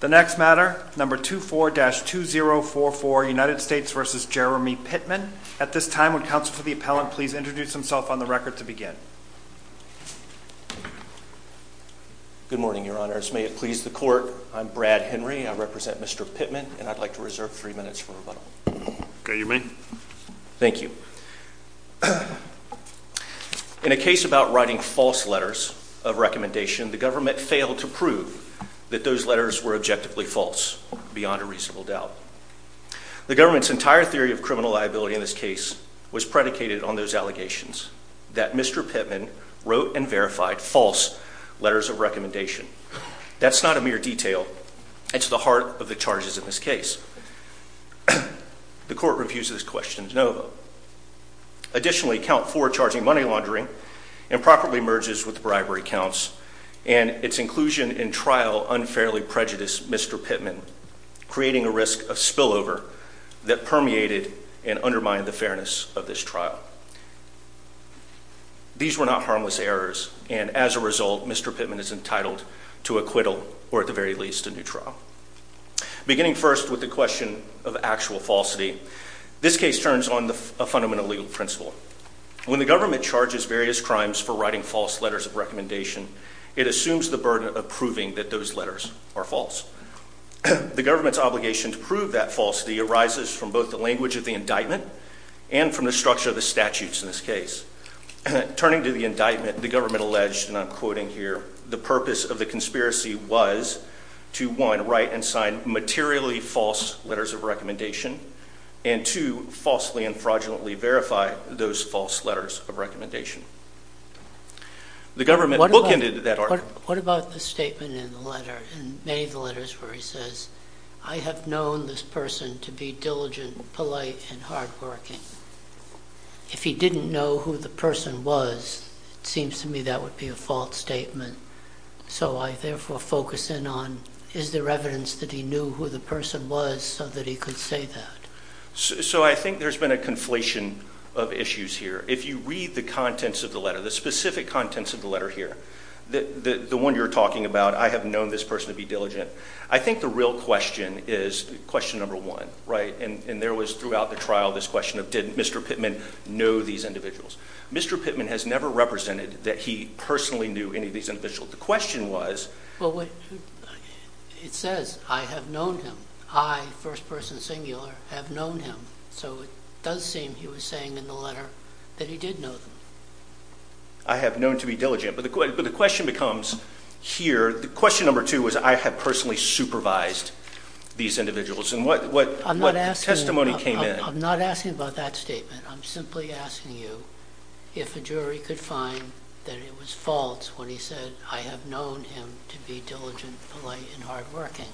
The next matter, number 24-2044, United States v. Jeremy Pittman. At this time, would counsel to the appellant please introduce himself on the record to begin. Good morning, Your Honors. May it please the court, I'm Brad Henry. I represent Mr. Pittman and I'd like to reserve three minutes for rebuttal. Okay, you may. Thank you. In a case about writing false letters of recommendation, the government failed to prove that those letters were objectively false beyond a reasonable doubt. The government's entire theory of criminal liability in this case was predicated on those allegations that Mr. Pittman wrote and verified false letters of recommendation. That's not a mere detail. It's the heart of the charges in this case. The court refuses questions, no vote. Additionally, count four charging money laundering improperly merges with bribery counts and its inclusion in trial unfairly prejudiced Mr. Pittman, creating a risk of spillover that permeated and undermined the fairness of this trial. These were not harmless errors, and as a result, Mr. Pittman is entitled to acquittal or at the very least a new trial. Beginning first with the question of actual falsity, this case turns on the fundamental legal principle. When the government charges various crimes for writing false letters of recommendation, it assumes the burden of proving that those letters are false. The government's obligation to prove that falsity arises from both the language of the indictment and from the structure of the statutes in this case. Turning to the indictment, the government alleged, and I'm quoting here, the purpose of the conspiracy was to one right and sign materially false letters of recommendation and to falsely and fraudulently verify those false letters of recommendation. The government bookended that article. What about the statement in the letter and many of the letters where he says, I have known this person to be diligent, polite and hard working. If he didn't know who the person was, it seems to me that would be a false statement. So I therefore focus in on, is there evidence that he knew who the person was so that he could say that? So I think there's been a conflation of issues here. If you read the contents of the letter, the specific contents of the letter here, the one you're talking about, I have known this person to be diligent. I think the real question is question number one, right? And there was throughout the trial, this question of did Mr. Pittman know these individuals? Mr. Pittman has never represented that he personally knew any of these individuals. The question was... It says, I have known him. I, first person singular, have known him. So it does seem he was saying in the letter that he did know them. I have known to be diligent. But the question becomes here. The question number two was, I have personally supervised these individuals. And what testimony came in? I'm not asking about that statement. I'm simply asking you if a jury could find that it was false when he said, I have known him to be diligent, polite and hard working.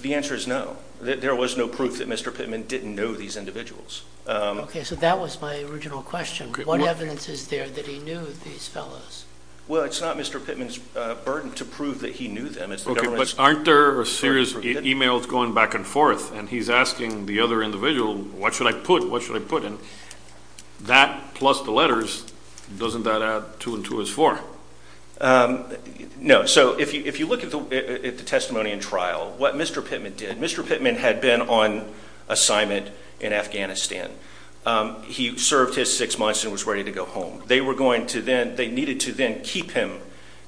The answer is no. There was no proof that Mr. Pittman didn't know these individuals. Okay, so that was my original question. What evidence is there that he knew these fellows? Well, it's not Mr. Pittman's burden to prove that he knew them. But aren't there a series of emails going back and forth and he's asking the other individual, what should I put? What should I put in? That plus the letters, doesn't that add two and two is four? Um, no. So if you look at the testimony in trial, what Mr Pittman did, Mr Pittman had been on assignment in Afghanistan. Um, he served his six months and was ready to go home. They were going to then they needed to then keep him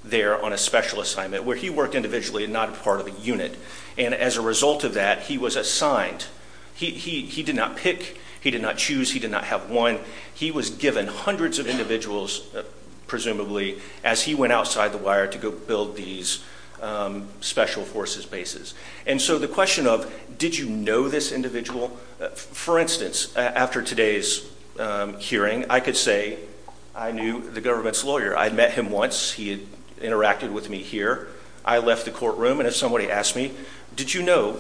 there on a special assignment where he worked individually and not a part of a unit. And as a result of that, he was assigned. He did not pick. He did not choose. He did not have one. He was given hundreds of individuals, presumably, as he went outside the wire to go build these, um, special forces bases. And so the question of did you know this individual, for instance, after today's hearing, I could say I knew the government's lawyer. I met him once. He interacted with me here. I left the courtroom. And if somebody asked me, did you know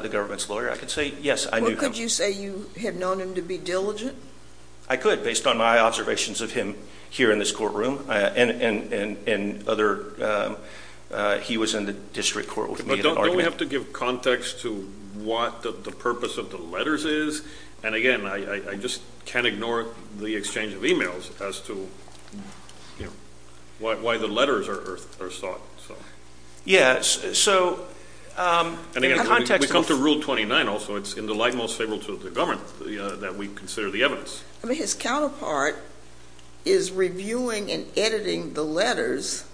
the government's lawyer? I could say yes. I knew. Could you say you had known him to be diligent? I could, based on my observations of him here in this courtroom and other, uh, he was in the district court with me. Don't we have to give context to what the purpose of the letters is? And again, I just can't ignore the exchange of emails as to why the letters are sought. So, yes. So, um, and again, we come to rule 29 also, it's in the light most favorable to the government that we consider the I mean, his counterpart is reviewing and editing the letters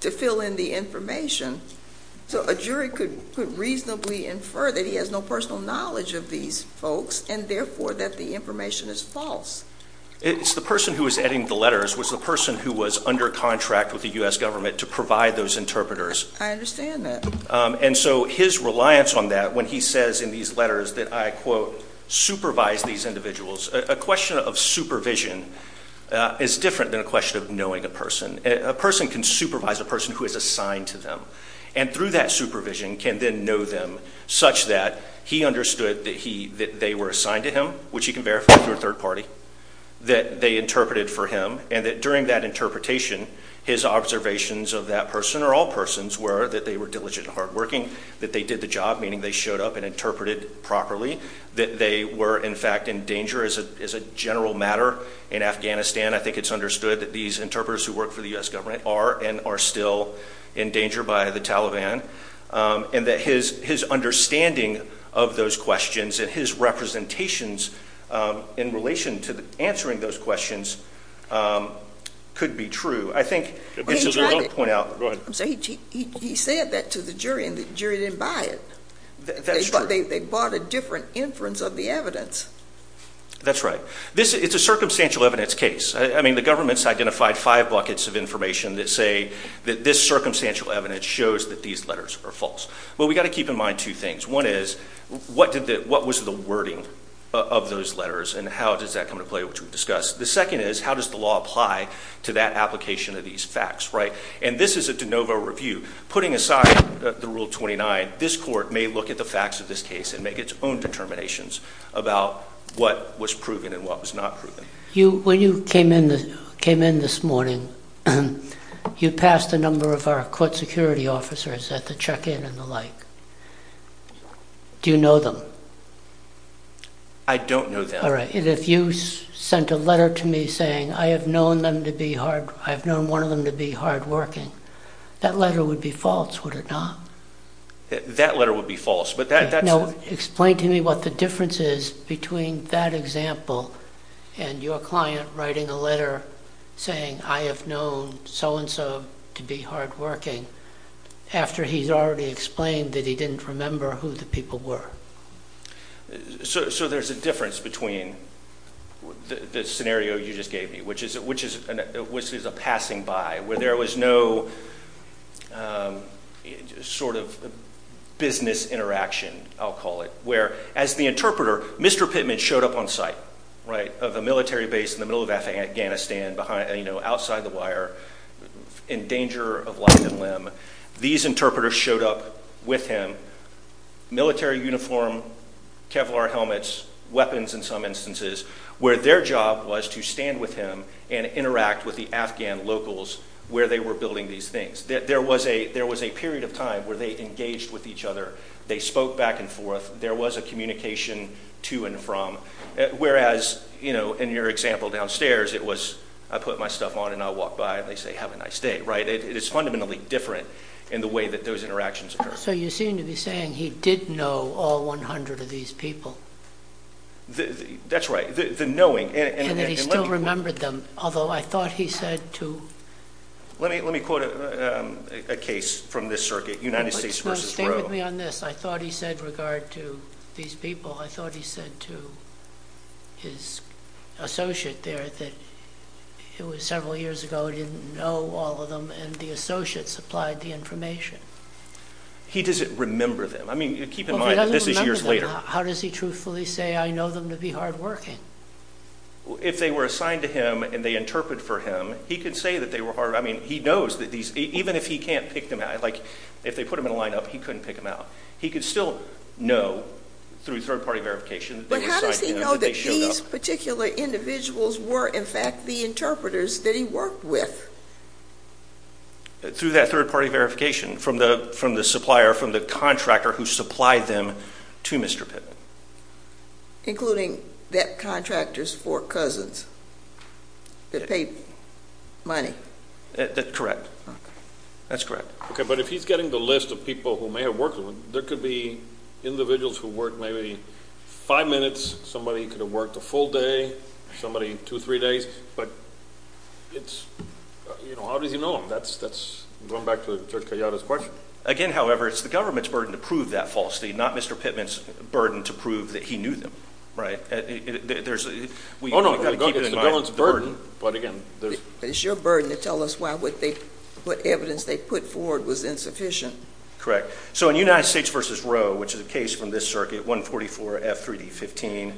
to fill in the information. So a jury could reasonably infer that he has no personal knowledge of these folks, and therefore that the information is false. It's the person who is adding the letters was the person who was under contract with the U. S. Government to provide those interpreters. I understand that. And so his reliance on that when he says in these letters that I quote supervised these individuals, a question of supervision is different than a question of knowing a person. A person can supervise a person who is assigned to them and through that supervision can then know them such that he understood that he that they were assigned to him, which you can verify through a third party that they interpreted for him and that during that interpretation, his observations of that person or all persons were that they were diligent and hard working, that they did the job, meaning they showed up and interpreted properly, that they were, in fact, in danger is a is a general matter in Afghanistan. I think it's understood that these interpreters who work for the U. S. Government are and are still in danger by the Taliban. Um, and that his his understanding of those questions and his representations in relation to answering those questions, um, could be true. I think it's a point out. So he said that to the jury and the jury didn't buy it. That's what they bought. A different inference of the evidence. That's right. This is a circumstantial evidence case. I mean, the government's identified five buckets of information that say that this circumstantial evidence shows that these letters are false. But we've got to keep in mind two things. One is what did that? What was the wording of those letters? And how does that come to play? Which we discussed the second is how does the law apply to that application of these facts, right? And this is a DeNovo review. Putting aside the rule 29. This court may look at the facts of this case and make its own determinations about what was proven and what was not proven. You when you came in, came in this morning, you passed a number of our court security officers at the check in and the like. Do you know them? I don't know that. All right. And if you sent a letter to me saying I have known them to be hard. I've known one of them to be hard working. That letter would be false. Would it not? That letter would be false. But that no, explain to me what the difference is between that example and your client writing a letter saying I have known so and so to be hard working after he's already explained that he didn't remember who the people were. So there's a difference between the scenario you just gave me, which is which is which is a passing by where there was no sort of business interaction. I'll call it where, as the interpreter, Mr Pittman showed up on site right of the military base in the middle of Afghanistan behind, you know, outside the wire in danger of life and limb. These interpreters showed up with him military uniform, Kevlar helmets, weapons in some instances where their job was to stand with him and interact with the Afghan locals where they were building these things. There was a there was a period of time where they engaged with each other. They spoke back and forth. There was a communication to and from. Whereas, you know, in your example downstairs, it was I put my stuff on and I'll walk by and they say, Have a nice day, right? It is fundamentally different in the way that those interactions occur. So you seem to be saying he did know all 100 of these people. That's right. The knowing and he still remembered them. Although I thought he said to let me let me quote a case from this circuit United States versus stay with me on this. I thought he said regard to these people. I thought he said to his associate there that it was several years ago. Didn't know all of them. And the associates applied the information. He doesn't remember them. I mean, keep this is years later. How does he truthfully say? I know them to be hard working if they were assigned to him and they interpret for him. He could say that they were hard. I mean, he knows that these even if he can't pick them out, like if they put him in a lineup, he couldn't pick him out. He could still no through third party verification. But how does he know that these particular individuals were in fact the interpreters that he worked with through that third party verification from the from the supplier from the contractor who supplied them to Mr Pitt, including that contractors for cousins that paid money. That's correct. That's correct. Okay. But if he's getting the list of people who may have worked, there could be individuals who work maybe five minutes. Somebody could have worked a full day. Somebody 23 days. But it's, you know, how does he know him? That's that's going back to the question again. However, it's the government's burden to prove that falsity, not Mr Pittman's burden to prove that he knew them right. There's a way to keep it in my burden. But again, it's your burden to tell us why what they what evidence they put forward was insufficient. Correct. So in United States versus row, which is a case from this circuit, 1 44 F 3 D 15.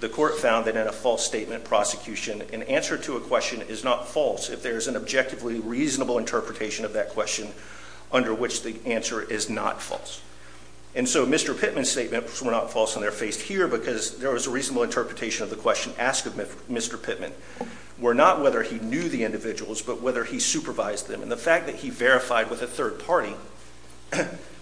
The court found that in a false statement prosecution, an answer to a question is not false. If there is an objectively reasonable interpretation of that question under which the answer is not false. And so, Mr Pittman statement were not false on their face here because there was a reasonable interpretation of the question asked of Mr Pittman. We're not whether he knew the individuals, but whether he supervised them in the fact that he verified with a third party.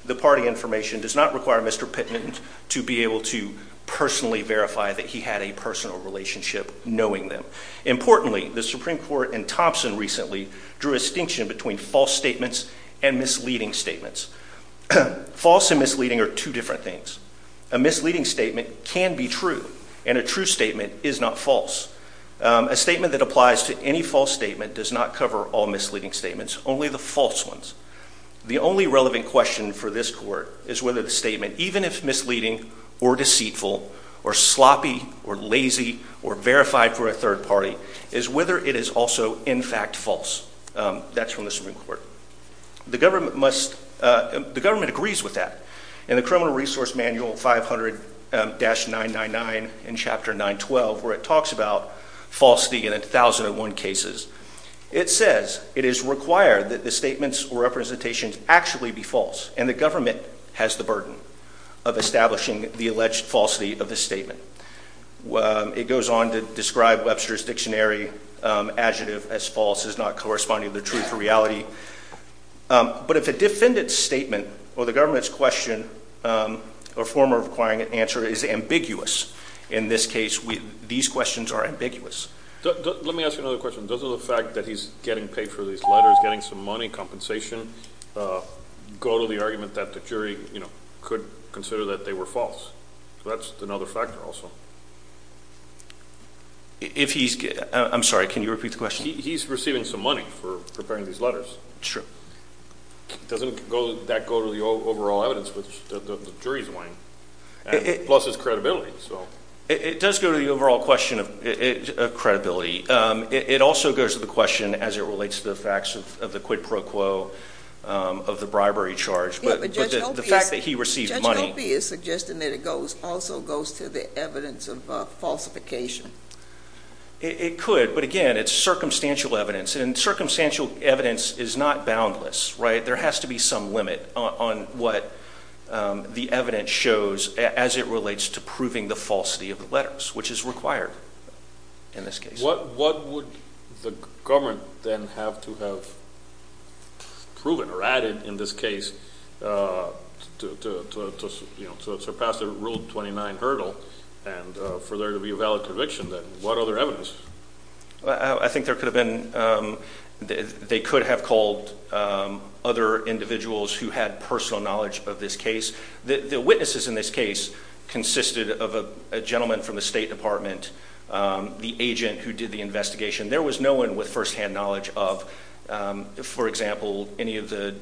The party information does not require Mr Pittman to be able to personally verify that he had a personal relationship knowing them. Importantly, the Supreme Court and Thompson recently drew a distinction between false statements and misleading statements. False and misleading are two different things. A misleading statement can be true, and a true statement is not false. A statement that applies to any false statement does not cover all misleading statements. Only the false ones. The only relevant question for this court is whether the statement, even if misleading or deceitful or sloppy or lazy or verified for a third party, is whether it is also in fact false. That's from the Supreme Court. The government must. The government agrees with that in the criminal resource manual 500-999 in Chapter 9 12, where it talks about falsity in 1001 cases. It says it is required that the statements or representations actually be false, and the government has the of establishing the alleged falsity of the statement. It goes on to describe Webster's dictionary adjective as false is not corresponding to the truth or reality. But if a defendant's statement or the government's question or former requiring an answer is ambiguous, in this case, these questions are ambiguous. Let me ask you another question. Does the fact that he's getting paid for these letters, getting some money compensation go to the argument that the jury could consider that they were false? That's another factor also. If he's I'm sorry, can you repeat the question? He's receiving some money for preparing these letters. Sure. Doesn't that go to the overall evidence with the jury's mind? Plus his credibility. So it does go to the overall question of credibility. It also goes to the question as it relates to the facts of the quid pro quo of the bribery charge. But the fact that he received money is suggesting that it goes also goes to the evidence of falsification. It could. But again, it's circumstantial evidence and circumstantial evidence is not boundless, right? There has to be some limit on what the evidence shows as it relates to proving the falsity of the letters, which is required. In this case, what would the government then have to have proven or added in this case, uh, to, you know, to surpass the ruled 29 hurdle and for there to be a valid conviction that what other evidence? I think there could have been, um, they could have called, um, other individuals who had personal knowledge of this case. The witnesses in this case consisted of a gentleman from the State Department. Um, the agent who did the investigation. There was no one with firsthand knowledge of, um, for example, any of the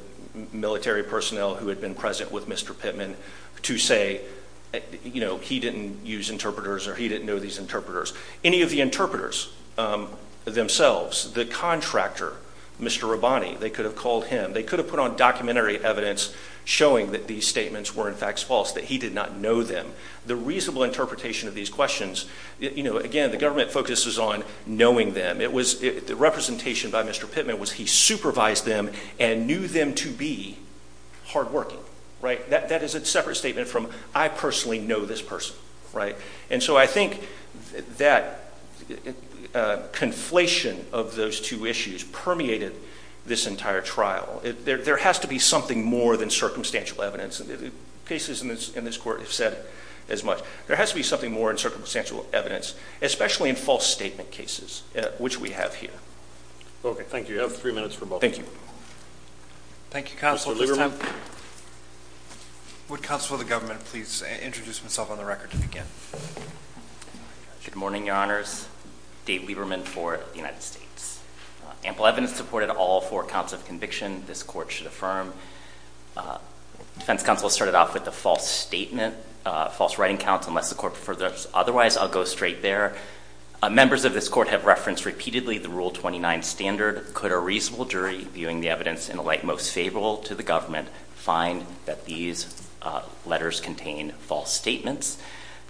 military personnel who had been present with Mr Pittman to say, you know, he didn't use interpreters or he didn't know these interpreters. Any of the interpreters, um, themselves, the contractor, Mr Rabbani, they could have called him. They could have put on documentary evidence showing that these statements were, in fact, false, that he did not know them. The reasonable interpretation of these questions. You know, again, the government focuses on knowing them. It was the representation by Mr Pittman was he supervised them and knew them to be hardworking, right? That that is a separate statement from I personally know this person, right? And so I think that, uh, conflation of those two issues permeated this entire trial. There has to be something more than circumstantial evidence cases in this in this court have said as much. There has to be something more in circumstantial evidence, especially in false statement cases, which we have here. Okay, thank you. You have three minutes for both. Thank you. Thank you. Council Lieberman. Would Council of the government please introduce himself on the record to begin? Good morning, Your Honors. Dave Lieberman for the United States. Ample evidence supported all four counts of conviction. This court should affirm, uh, defense counsel started off with the false statement, false writing accounts. Unless the corporate for the otherwise, I'll go straight there. Members of this court have referenced repeatedly the Rule 29 standard. Could a reasonable jury viewing the evidence in the light most favorable to the government find that these letters contain false statements?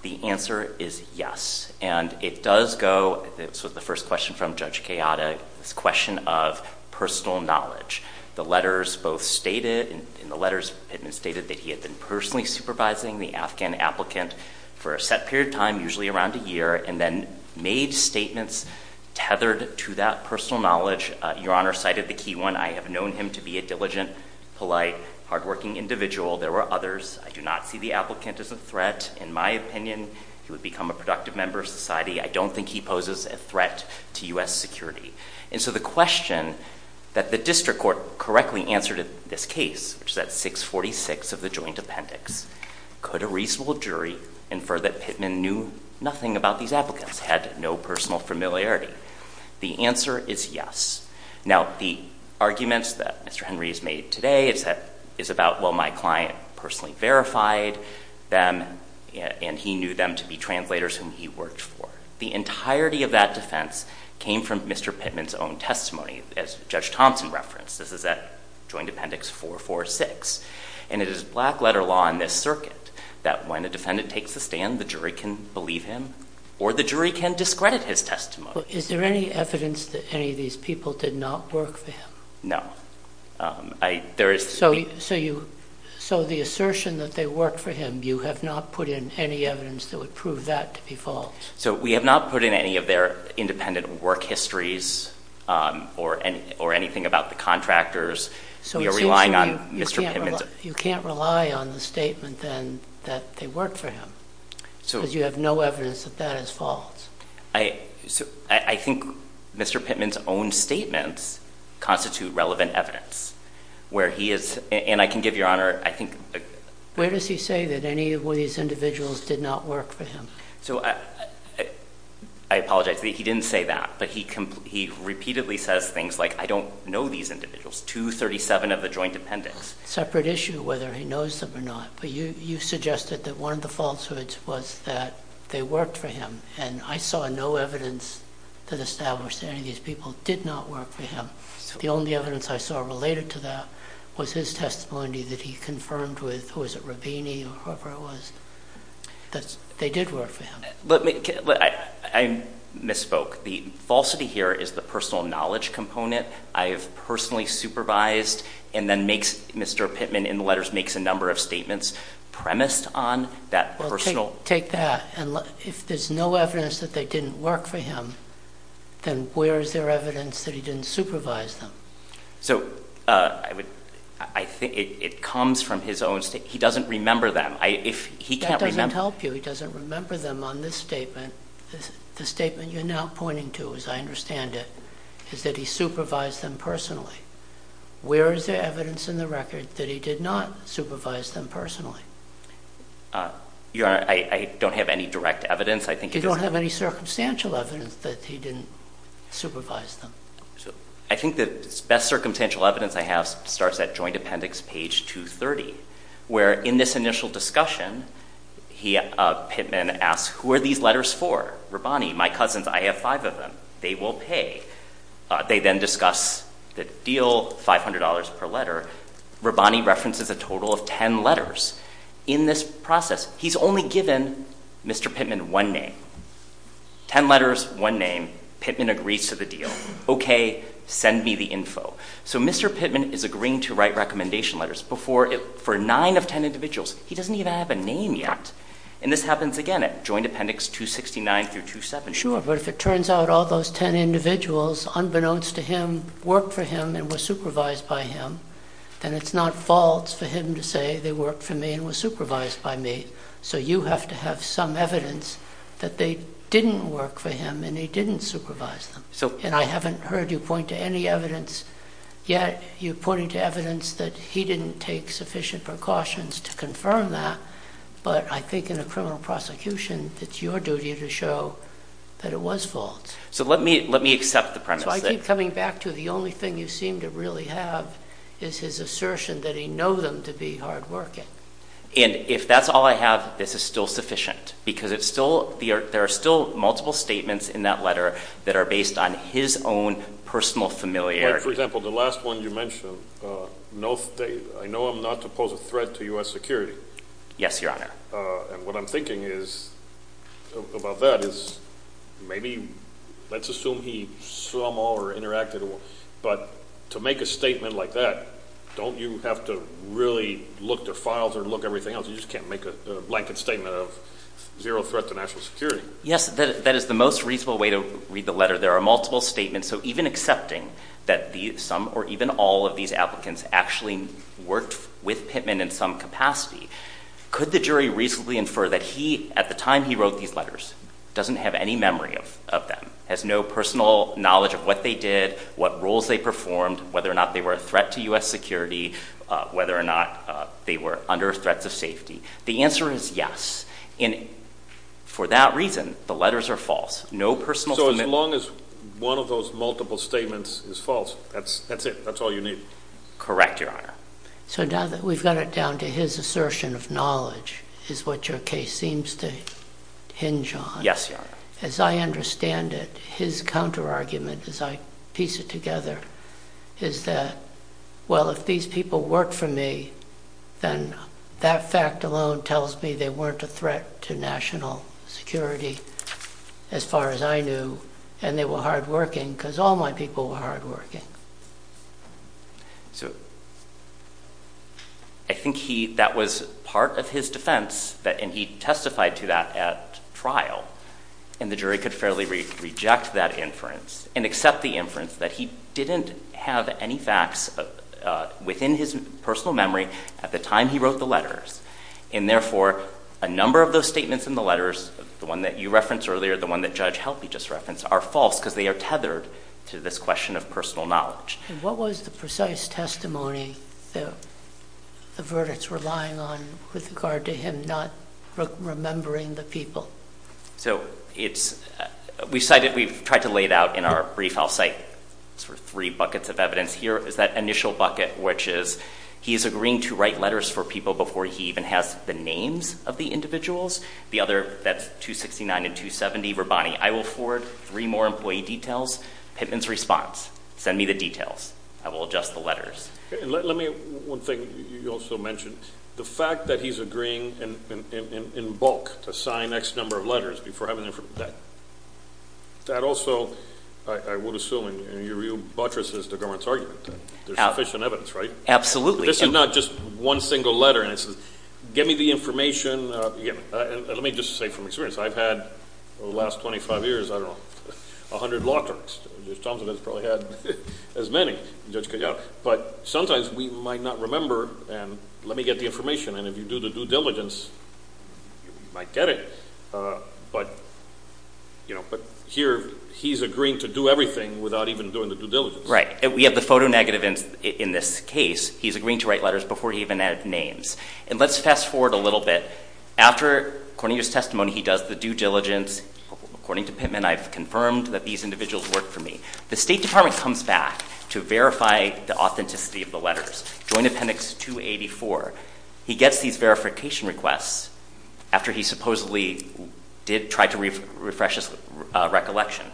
The answer is yes, and it does go. It's with the first question from Judge chaotic. This question of personal knowledge. The letters both stated in the letters statement stated that he had been personally supervising the Afghan applicant for a set period of time, usually around a year, and then made statements tethered to that personal knowledge. Your Honor cited the key one. I have known him to be a diligent, polite, hardworking individual. There were others. I do not see the applicant is a threat. In my opinion, he would become a productive member of society. I don't think he poses a threat to U. S. Security. And so the question that the district court correctly answered this case, which is at 6 46 of the joint appendix. Could a reasonable jury infer that Pittman knew nothing about these applicants had no personal familiarity? The answer is yes. Now, the arguments that Mr Henry's made today is that is about well, my client personally verified them, and he knew them to be translators whom he worked for. The entirety of that defense came from Mr Pittman's own testimony. As Judge Thompson referenced, this is that joint appendix 446, and it is black letter law in this circuit that when a defendant takes the stand, the jury can believe him or the jury can discredit his testimony. Is there any evidence that any of these people did not work for him? No, I there is. So so you so the assertion that they work for him, you have not put in any evidence that would prove that to be false. So we have not put in any of their independent work histories or or anything about the contractors. So you're relying on Mr Pimmons. You can't rely on the statement then that they work for him. So you have no evidence that that is false. I think Mr Pittman's own statements constitute relevant evidence where he is, and I can give your honor. I think where does he say that any of these individuals did not work for him? So I apologize. He didn't say that, but he he repeatedly says things like I don't know these individuals to 37 of the joint appendix separate issue whether he knows them or not. But you suggested that one of the falsehoods was that they worked for him, and I saw no evidence that established any of these people did not work for him. The only evidence I saw related to that was his testimony that he confirmed with who is it? Rubini or whoever it was that they did work for him. I misspoke. The falsity here is the personal knowledge component I have personally supervised and then makes Mr Pittman in the letters makes a number of statements premised on that personal take that. And if there's no evidence that they didn't work for him, then where is there evidence that he didn't supervise them? So I would I think it comes from his own state. He doesn't remember them. If he can't help you, he doesn't remember them on this statement. The statement you're now pointing to, as I understand it, is that he supervised them personally. Where is the evidence in the record that he did not supervise them personally? Uh, you're right. I don't have any direct evidence. I think you don't have any circumstantial evidence that he didn't supervise them. So I think the best circumstantial evidence I have starts at joint appendix page 2 30, where in this initial discussion, Pittman asks, who are these letters for? Rabbani, my cousins. I have five of them. They will pay. They then discuss the deal, $500 per letter. Rabbani references a total of 10 letters in this process. He's only given Mr Pittman one name, 10 letters, one name. Pittman agrees to the deal. Okay, send me the info. So Mr Pittman is agreeing to write 10 individuals. He doesn't even have a name yet. And this happens again at joint appendix 269 through 270. Sure. But if it turns out all those 10 individuals, unbeknownst to him, worked for him and was supervised by him, then it's not false for him to say they worked for me and was supervised by me. So you have to have some evidence that they didn't work for him and he didn't supervise them. And I haven't heard you point to any evidence yet. You're pointing to evidence that he didn't take sufficient precautions to confirm that. But I think in a criminal prosecution, it's your duty to show that it was false. So let me accept the premise. So I keep coming back to the only thing you seem to really have is his assertion that he know them to be hard working. And if that's all I have, this is still sufficient because there are still multiple statements in that letter that are based on his own personal familiarity. For example, the last one you mentioned, I know I'm not to pose a threat to U.S. security. Yes, Your Honor. And what I'm thinking is about that is maybe let's assume he saw them all or interacted. But to make a statement like that, don't you have to really look their files or look at everything else? You just can't make a blanket statement of zero threat to national security. Yes, that is the most reasonable way to read the letter. There are multiple statements. So even accepting that some or even all of these applicants actually worked with Pittman in some capacity, could the jury reasonably infer that he, at the time he wrote these letters, doesn't have any memory of them, has no personal knowledge of what they did, what roles they performed, whether or not they were a threat to U.S. security, whether or not they were under threats of safety? The answer is yes. And for that reason, the letters are false. No personal... So as long as one of those multiple statements is false, that's it. That's all you need. Correct, Your Honor. So now that we've got it down to his assertion of knowledge is what your case seems to hinge on. Yes, Your Honor. As I understand it, his counterargument as I piece it together is that, well, if these people worked for me, then that fact alone tells me they weren't a threat to national security. As far as I knew, and they were hardworking, because all my people were hardworking. So I think that was part of his defense, and he testified to that at trial, and the jury could fairly reject that inference and accept the inference that he didn't have any facts within his personal memory at the time he wrote the letters. And therefore, a number of those statements in the letters, the one that you referenced earlier, the one that Judge Helpe just referenced, are false, because they are tethered to this question of personal knowledge. And what was the precise testimony that the verdicts were lying on with regard to him not remembering the people? So it's... We've cited... We've tried to lay it out in our brief. I'll cite three buckets of evidence. Here is that initial bucket, which is, he's agreeing to write letters for people before he even has the names of the individuals. The other, that's 269 and 270, Rabbani, I will forward three more employee details. Pittman's response, send me the details. I will adjust the letters. Let me... One thing you also mentioned, the fact that he's agreeing in bulk to sign X number of letters before having... That also, I would assume, and you're real buttress is the government's argument. There's sufficient evidence, right? Absolutely. This is not just one single letter, and it says, get me the information. And let me just say from experience, I've had, over the last 25 years, I don't know, 100 law terms. Judge Thompson has probably had as many, Judge Kayano. But sometimes, we might not remember, and let me get the information. And if you do the due diligence, you might get it. But here, he's agreeing to do everything without even doing the due diligence. Right. We have the photo negative in this case. He's agreeing to write letters before he even added names. And let's fast forward a little bit. After, according to his testimony, he does the due diligence. According to Pittman, I've confirmed that these individuals worked for me. The State Department comes back to verify the authenticity of the letters. Joint Appendix 284. He gets these verification requests after he supposedly did try to refresh his recollection.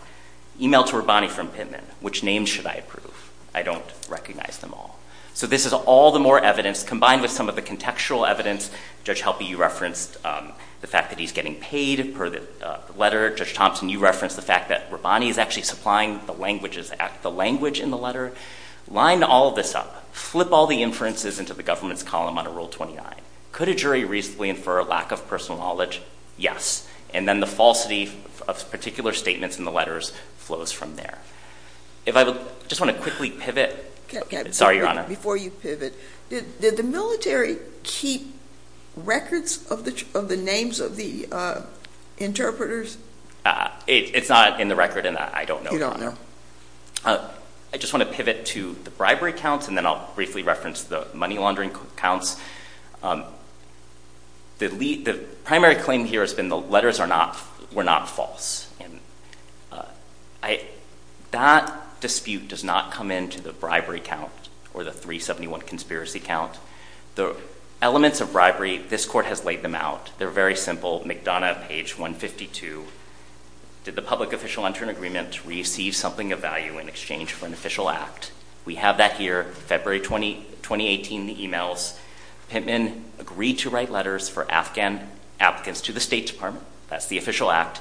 Email to Rabbani from Pittman, which name should I approve? I don't recognize them all. So this is all the more evidence, combined with some of the contextual evidence. Judge Helpe, you referenced the fact that he's getting paid per the letter. Judge Thompson, you referenced the fact that Rabbani is actually supplying the language in the letter. Line all of this up. Flip all the inferences into the government's column on Rule 29. Could a jury reasonably infer a lack of personal knowledge? Yes. And then the falsity of particular statements in the letters flows from there. If I would just want to quickly pivot. Sorry, Your Honor. Before you pivot, did the military keep records of the names of the interpreters? It's not in the record and I don't know. You don't know. I just want to pivot to the bribery counts and then I'll briefly reference the money laundering counts. The primary claim here has been the letters were not false. That dispute does not come into the bribery count or the 371 conspiracy count. The elements of bribery, this court has laid them out. They're very simple. McDonough, page 152. Did the public official enter an agreement to receive something of value in exchange for an official act? We have that here. February 2018, the emails. Pittman agreed to provide letters for Afghan applicants to the State Department. That's the official act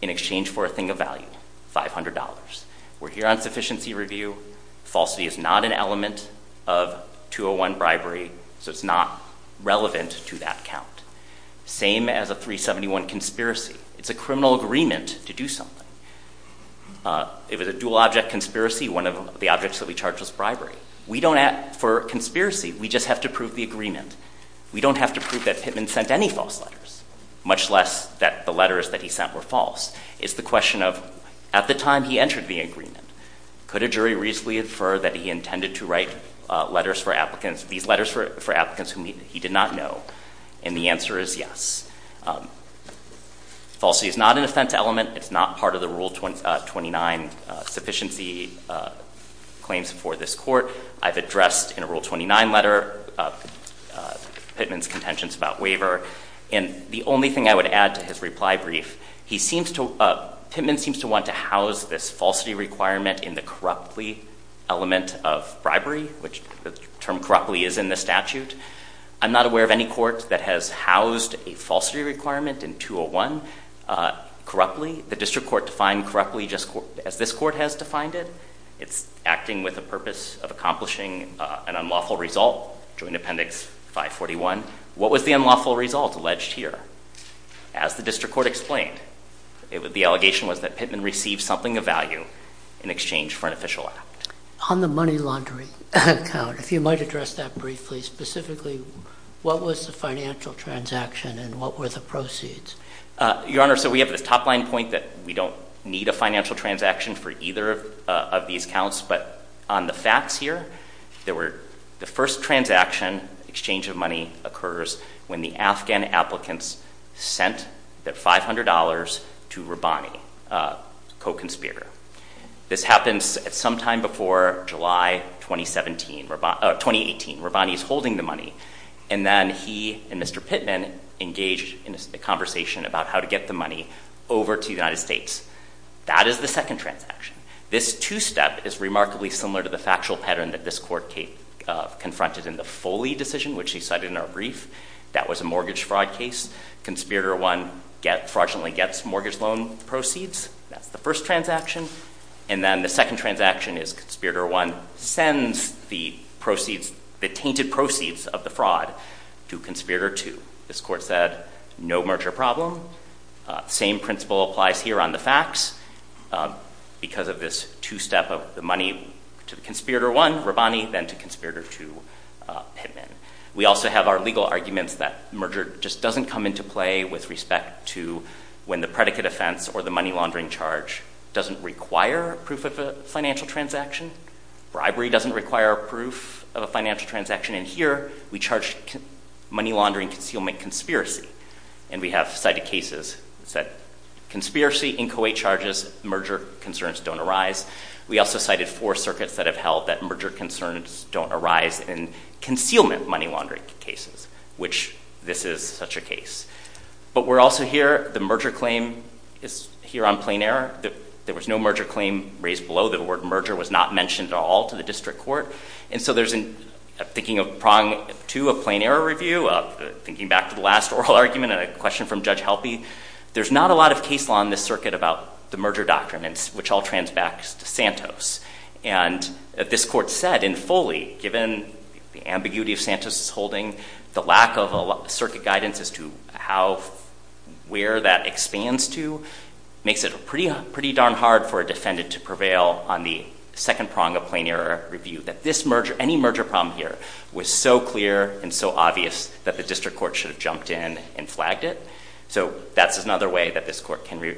in exchange for a thing of value, $500. We're here on sufficiency review. Falsity is not an element of 201 bribery, so it's not relevant to that count. Same as a 371 conspiracy. It's a criminal agreement to do something. If it's a dual object conspiracy, one of the objects that we charge is bribery. We don't, for conspiracy, we just have to prove the agreement. We don't have to prove that Pittman sent any false letters, much less that the letters that he sent were false. It's the question of, at the time he entered the agreement, could a jury reasonably infer that he intended to write letters for applicants, these letters for applicants whom he did not know? And the answer is yes. Falsity is not an offense element. It's not part of the Rule 29 sufficiency claims for this court. I've addressed in a Rule 29 letter Pittman's contentions about waiver. And the only thing I would add to his reply brief, he seems to, Pittman seems to want to house this falsity requirement in the corruptly element of bribery, which the term corruptly is in the statute. I'm not aware of any court that has housed a falsity requirement in 201 corruptly. The district court defined corruptly as this court has defined it. It's acting with a purpose of accomplishing an unlawful result, Joint Appendix 541. What was the unlawful result alleged here? As the district court explained, the allegation was that Pittman received something of value in exchange for an official act. On the money laundering account, if you might address that briefly, specifically, what was the financial transaction and what were the proceeds? Your Honor, so we have this top line point that we don't need a financial transaction for either of these accounts. But on the facts here, there were the first transaction exchange of money occurs when the Afghan applicants sent that $500 to Rabbani, a co-conspirator. This happens at sometime before July 2017, 2018. Rabbani is holding the money. And then he and Mr. Pittman engaged in a conversation about how to get the money over to the United States. That is the second transaction. This two-step is remarkably similar to the factual pattern that this court confronted in the Foley decision, which he cited in our brief. That was a mortgage fraud case. Conspirator 1 fraudulently gets mortgage loan proceeds. That's the first transaction. And then the second transaction is conspirator 1 sends the proceeds, the tainted proceeds of the fraud to conspirator 2. This court said, no merger problem. Same principle applies here on the facts because of this two-step of the money to the conspirator 1, Rabbani, then to conspirator 2, Pittman. We also have our legal arguments that merger just doesn't come into play with respect to when the predicate offense or the money laundering charge doesn't require proof of a financial transaction. Bribery doesn't require proof of a financial transaction. And here we charge money laundering concealment conspiracy. And we have cited cases that conspiracy inchoate charges, merger concerns don't arise. We also cited four circuits that have held that merger concerns don't arise in concealment money laundering cases, which this is such a case. But we're also here, the merger claim is here on plain error. There was no merger claim raised below the word merger was not mentioned at all to the district court. And so there's a thinking of prong to a plain error review, thinking back to the last oral argument and a question from Judge Helpe, there's not a lot of case law in this circuit about the merger doctrine, which all transfers back to Santos. And this court said in fully, given the ambiguity of Santos' holding, the lack of circuit guidance as to how, where that expands to, makes it pretty darn hard for a defendant to prevail on the second prong of plain error review, that this merger, any merger problem here was so clear and so obvious that the district court should have jumped in and dragged it. So that's another way that this court can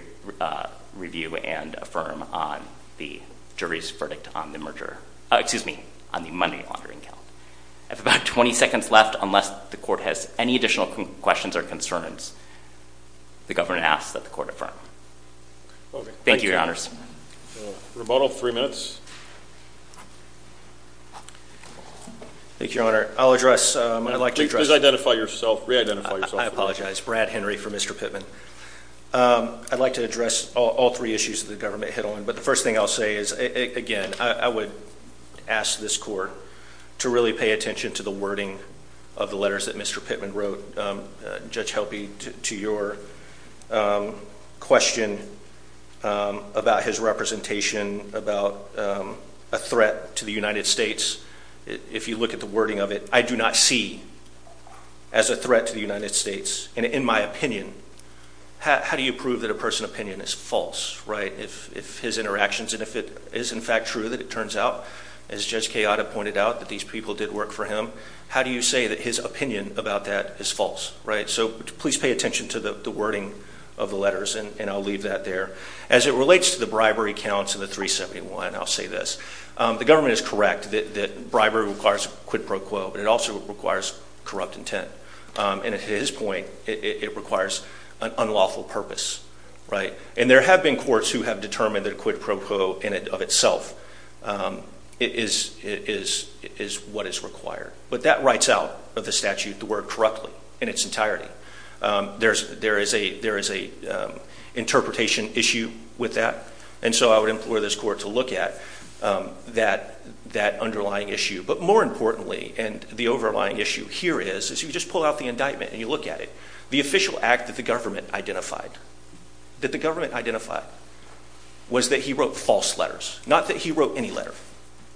review and affirm on the jury's verdict on the merger, excuse me, on the money laundering count. I have about 20 seconds left, unless the court has any additional questions or concerns, the governor asks that the court affirm. Thank you, your honors. Rebuttal, three minutes. Thank you, your honor. I'll address, I'd like to address. Please identify yourself, reidentify yourself. I apologize, Brad Henry for Mr. Pittman. I'd like to address all three issues that the government hit on, but the first thing I'll say is, again, I would ask this court to really pay attention to the wording of the letters that Mr. Pittman wrote. Judge Helpy, to your question about his representation, about a threat to the United States, if you look at the wording of it, I do not see as a threat to the United States, and in my opinion, how do you prove that a person's opinion is false, right? If his interactions, and if it is in fact true that it turns out, as Judge Kayada pointed out, that these people did work for him, how do you say that his opinion about that is false, right? So please pay attention to the wording of the letters, and I'll leave that there. As it relates to the bribery counts in the 371, I'll say this. The government is correct that bribery requires quid pro quo, but it also requires corrupt intent, and at his point, it requires an unlawful purpose, right? And there have been courts who have determined that a quid pro quo in and of itself is what is required, but that writes out of the statute the word correctly in its entirety. There is an interpretation issue with that, and so I would implore this court to look at that underlying issue, but more importantly, and the overlying issue here is, is you just pull out the indictment and you look at it, the official act that the government identified, that the government identified, was that he wrote false letters, not that he wrote any letter,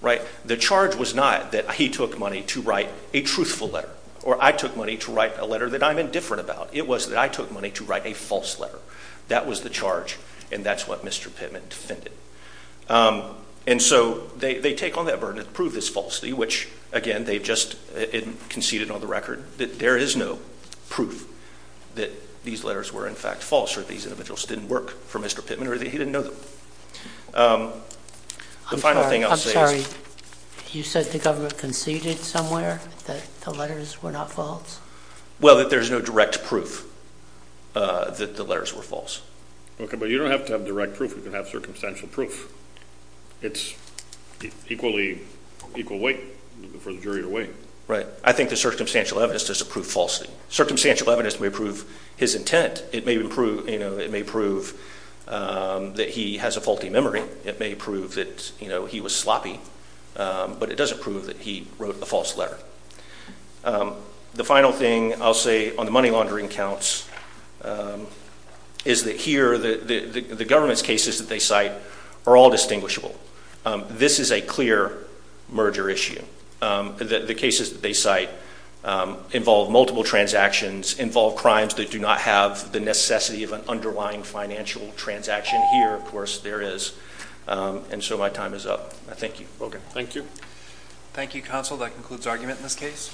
right? The charge was not that he took money to write a truthful letter, or I took money to write a letter that I'm indifferent about. It was that I took money to write a false letter. That was the charge, and that's what Mr. Pittman defended. And so they take on that burden to prove this falsely, which again, they've just conceded on the record that there is no proof that these letters were in fact false, or these individuals didn't work for Mr. Pittman, or that he didn't know them. The final thing I'll say is... I'm sorry. You said the government conceded somewhere that the letters were not false? Well, that there's no direct proof that the letters were false. Okay, but you don't have to have direct proof. You can have circumstantial proof. It's equally, equal weight for the jury to weigh. Right. I think the circumstantial evidence doesn't prove falsely. Circumstantial evidence may prove his intent. It may prove, you know, it may prove that he has a faulty memory. It may prove that, you know, he was sloppy, but it doesn't prove that he wrote a false letter. The final thing I'll say on the money laundering counts is that here, the government's cases that they cite are all distinguishable. This is a clear merger issue. The cases that they cite involve multiple transactions, involve crimes that do not have the necessity of an underlying financial transaction. Here, of course, there is. And so my time is up. Thank you. Okay. Thank you. Thank you, counsel. That concludes argument in this case.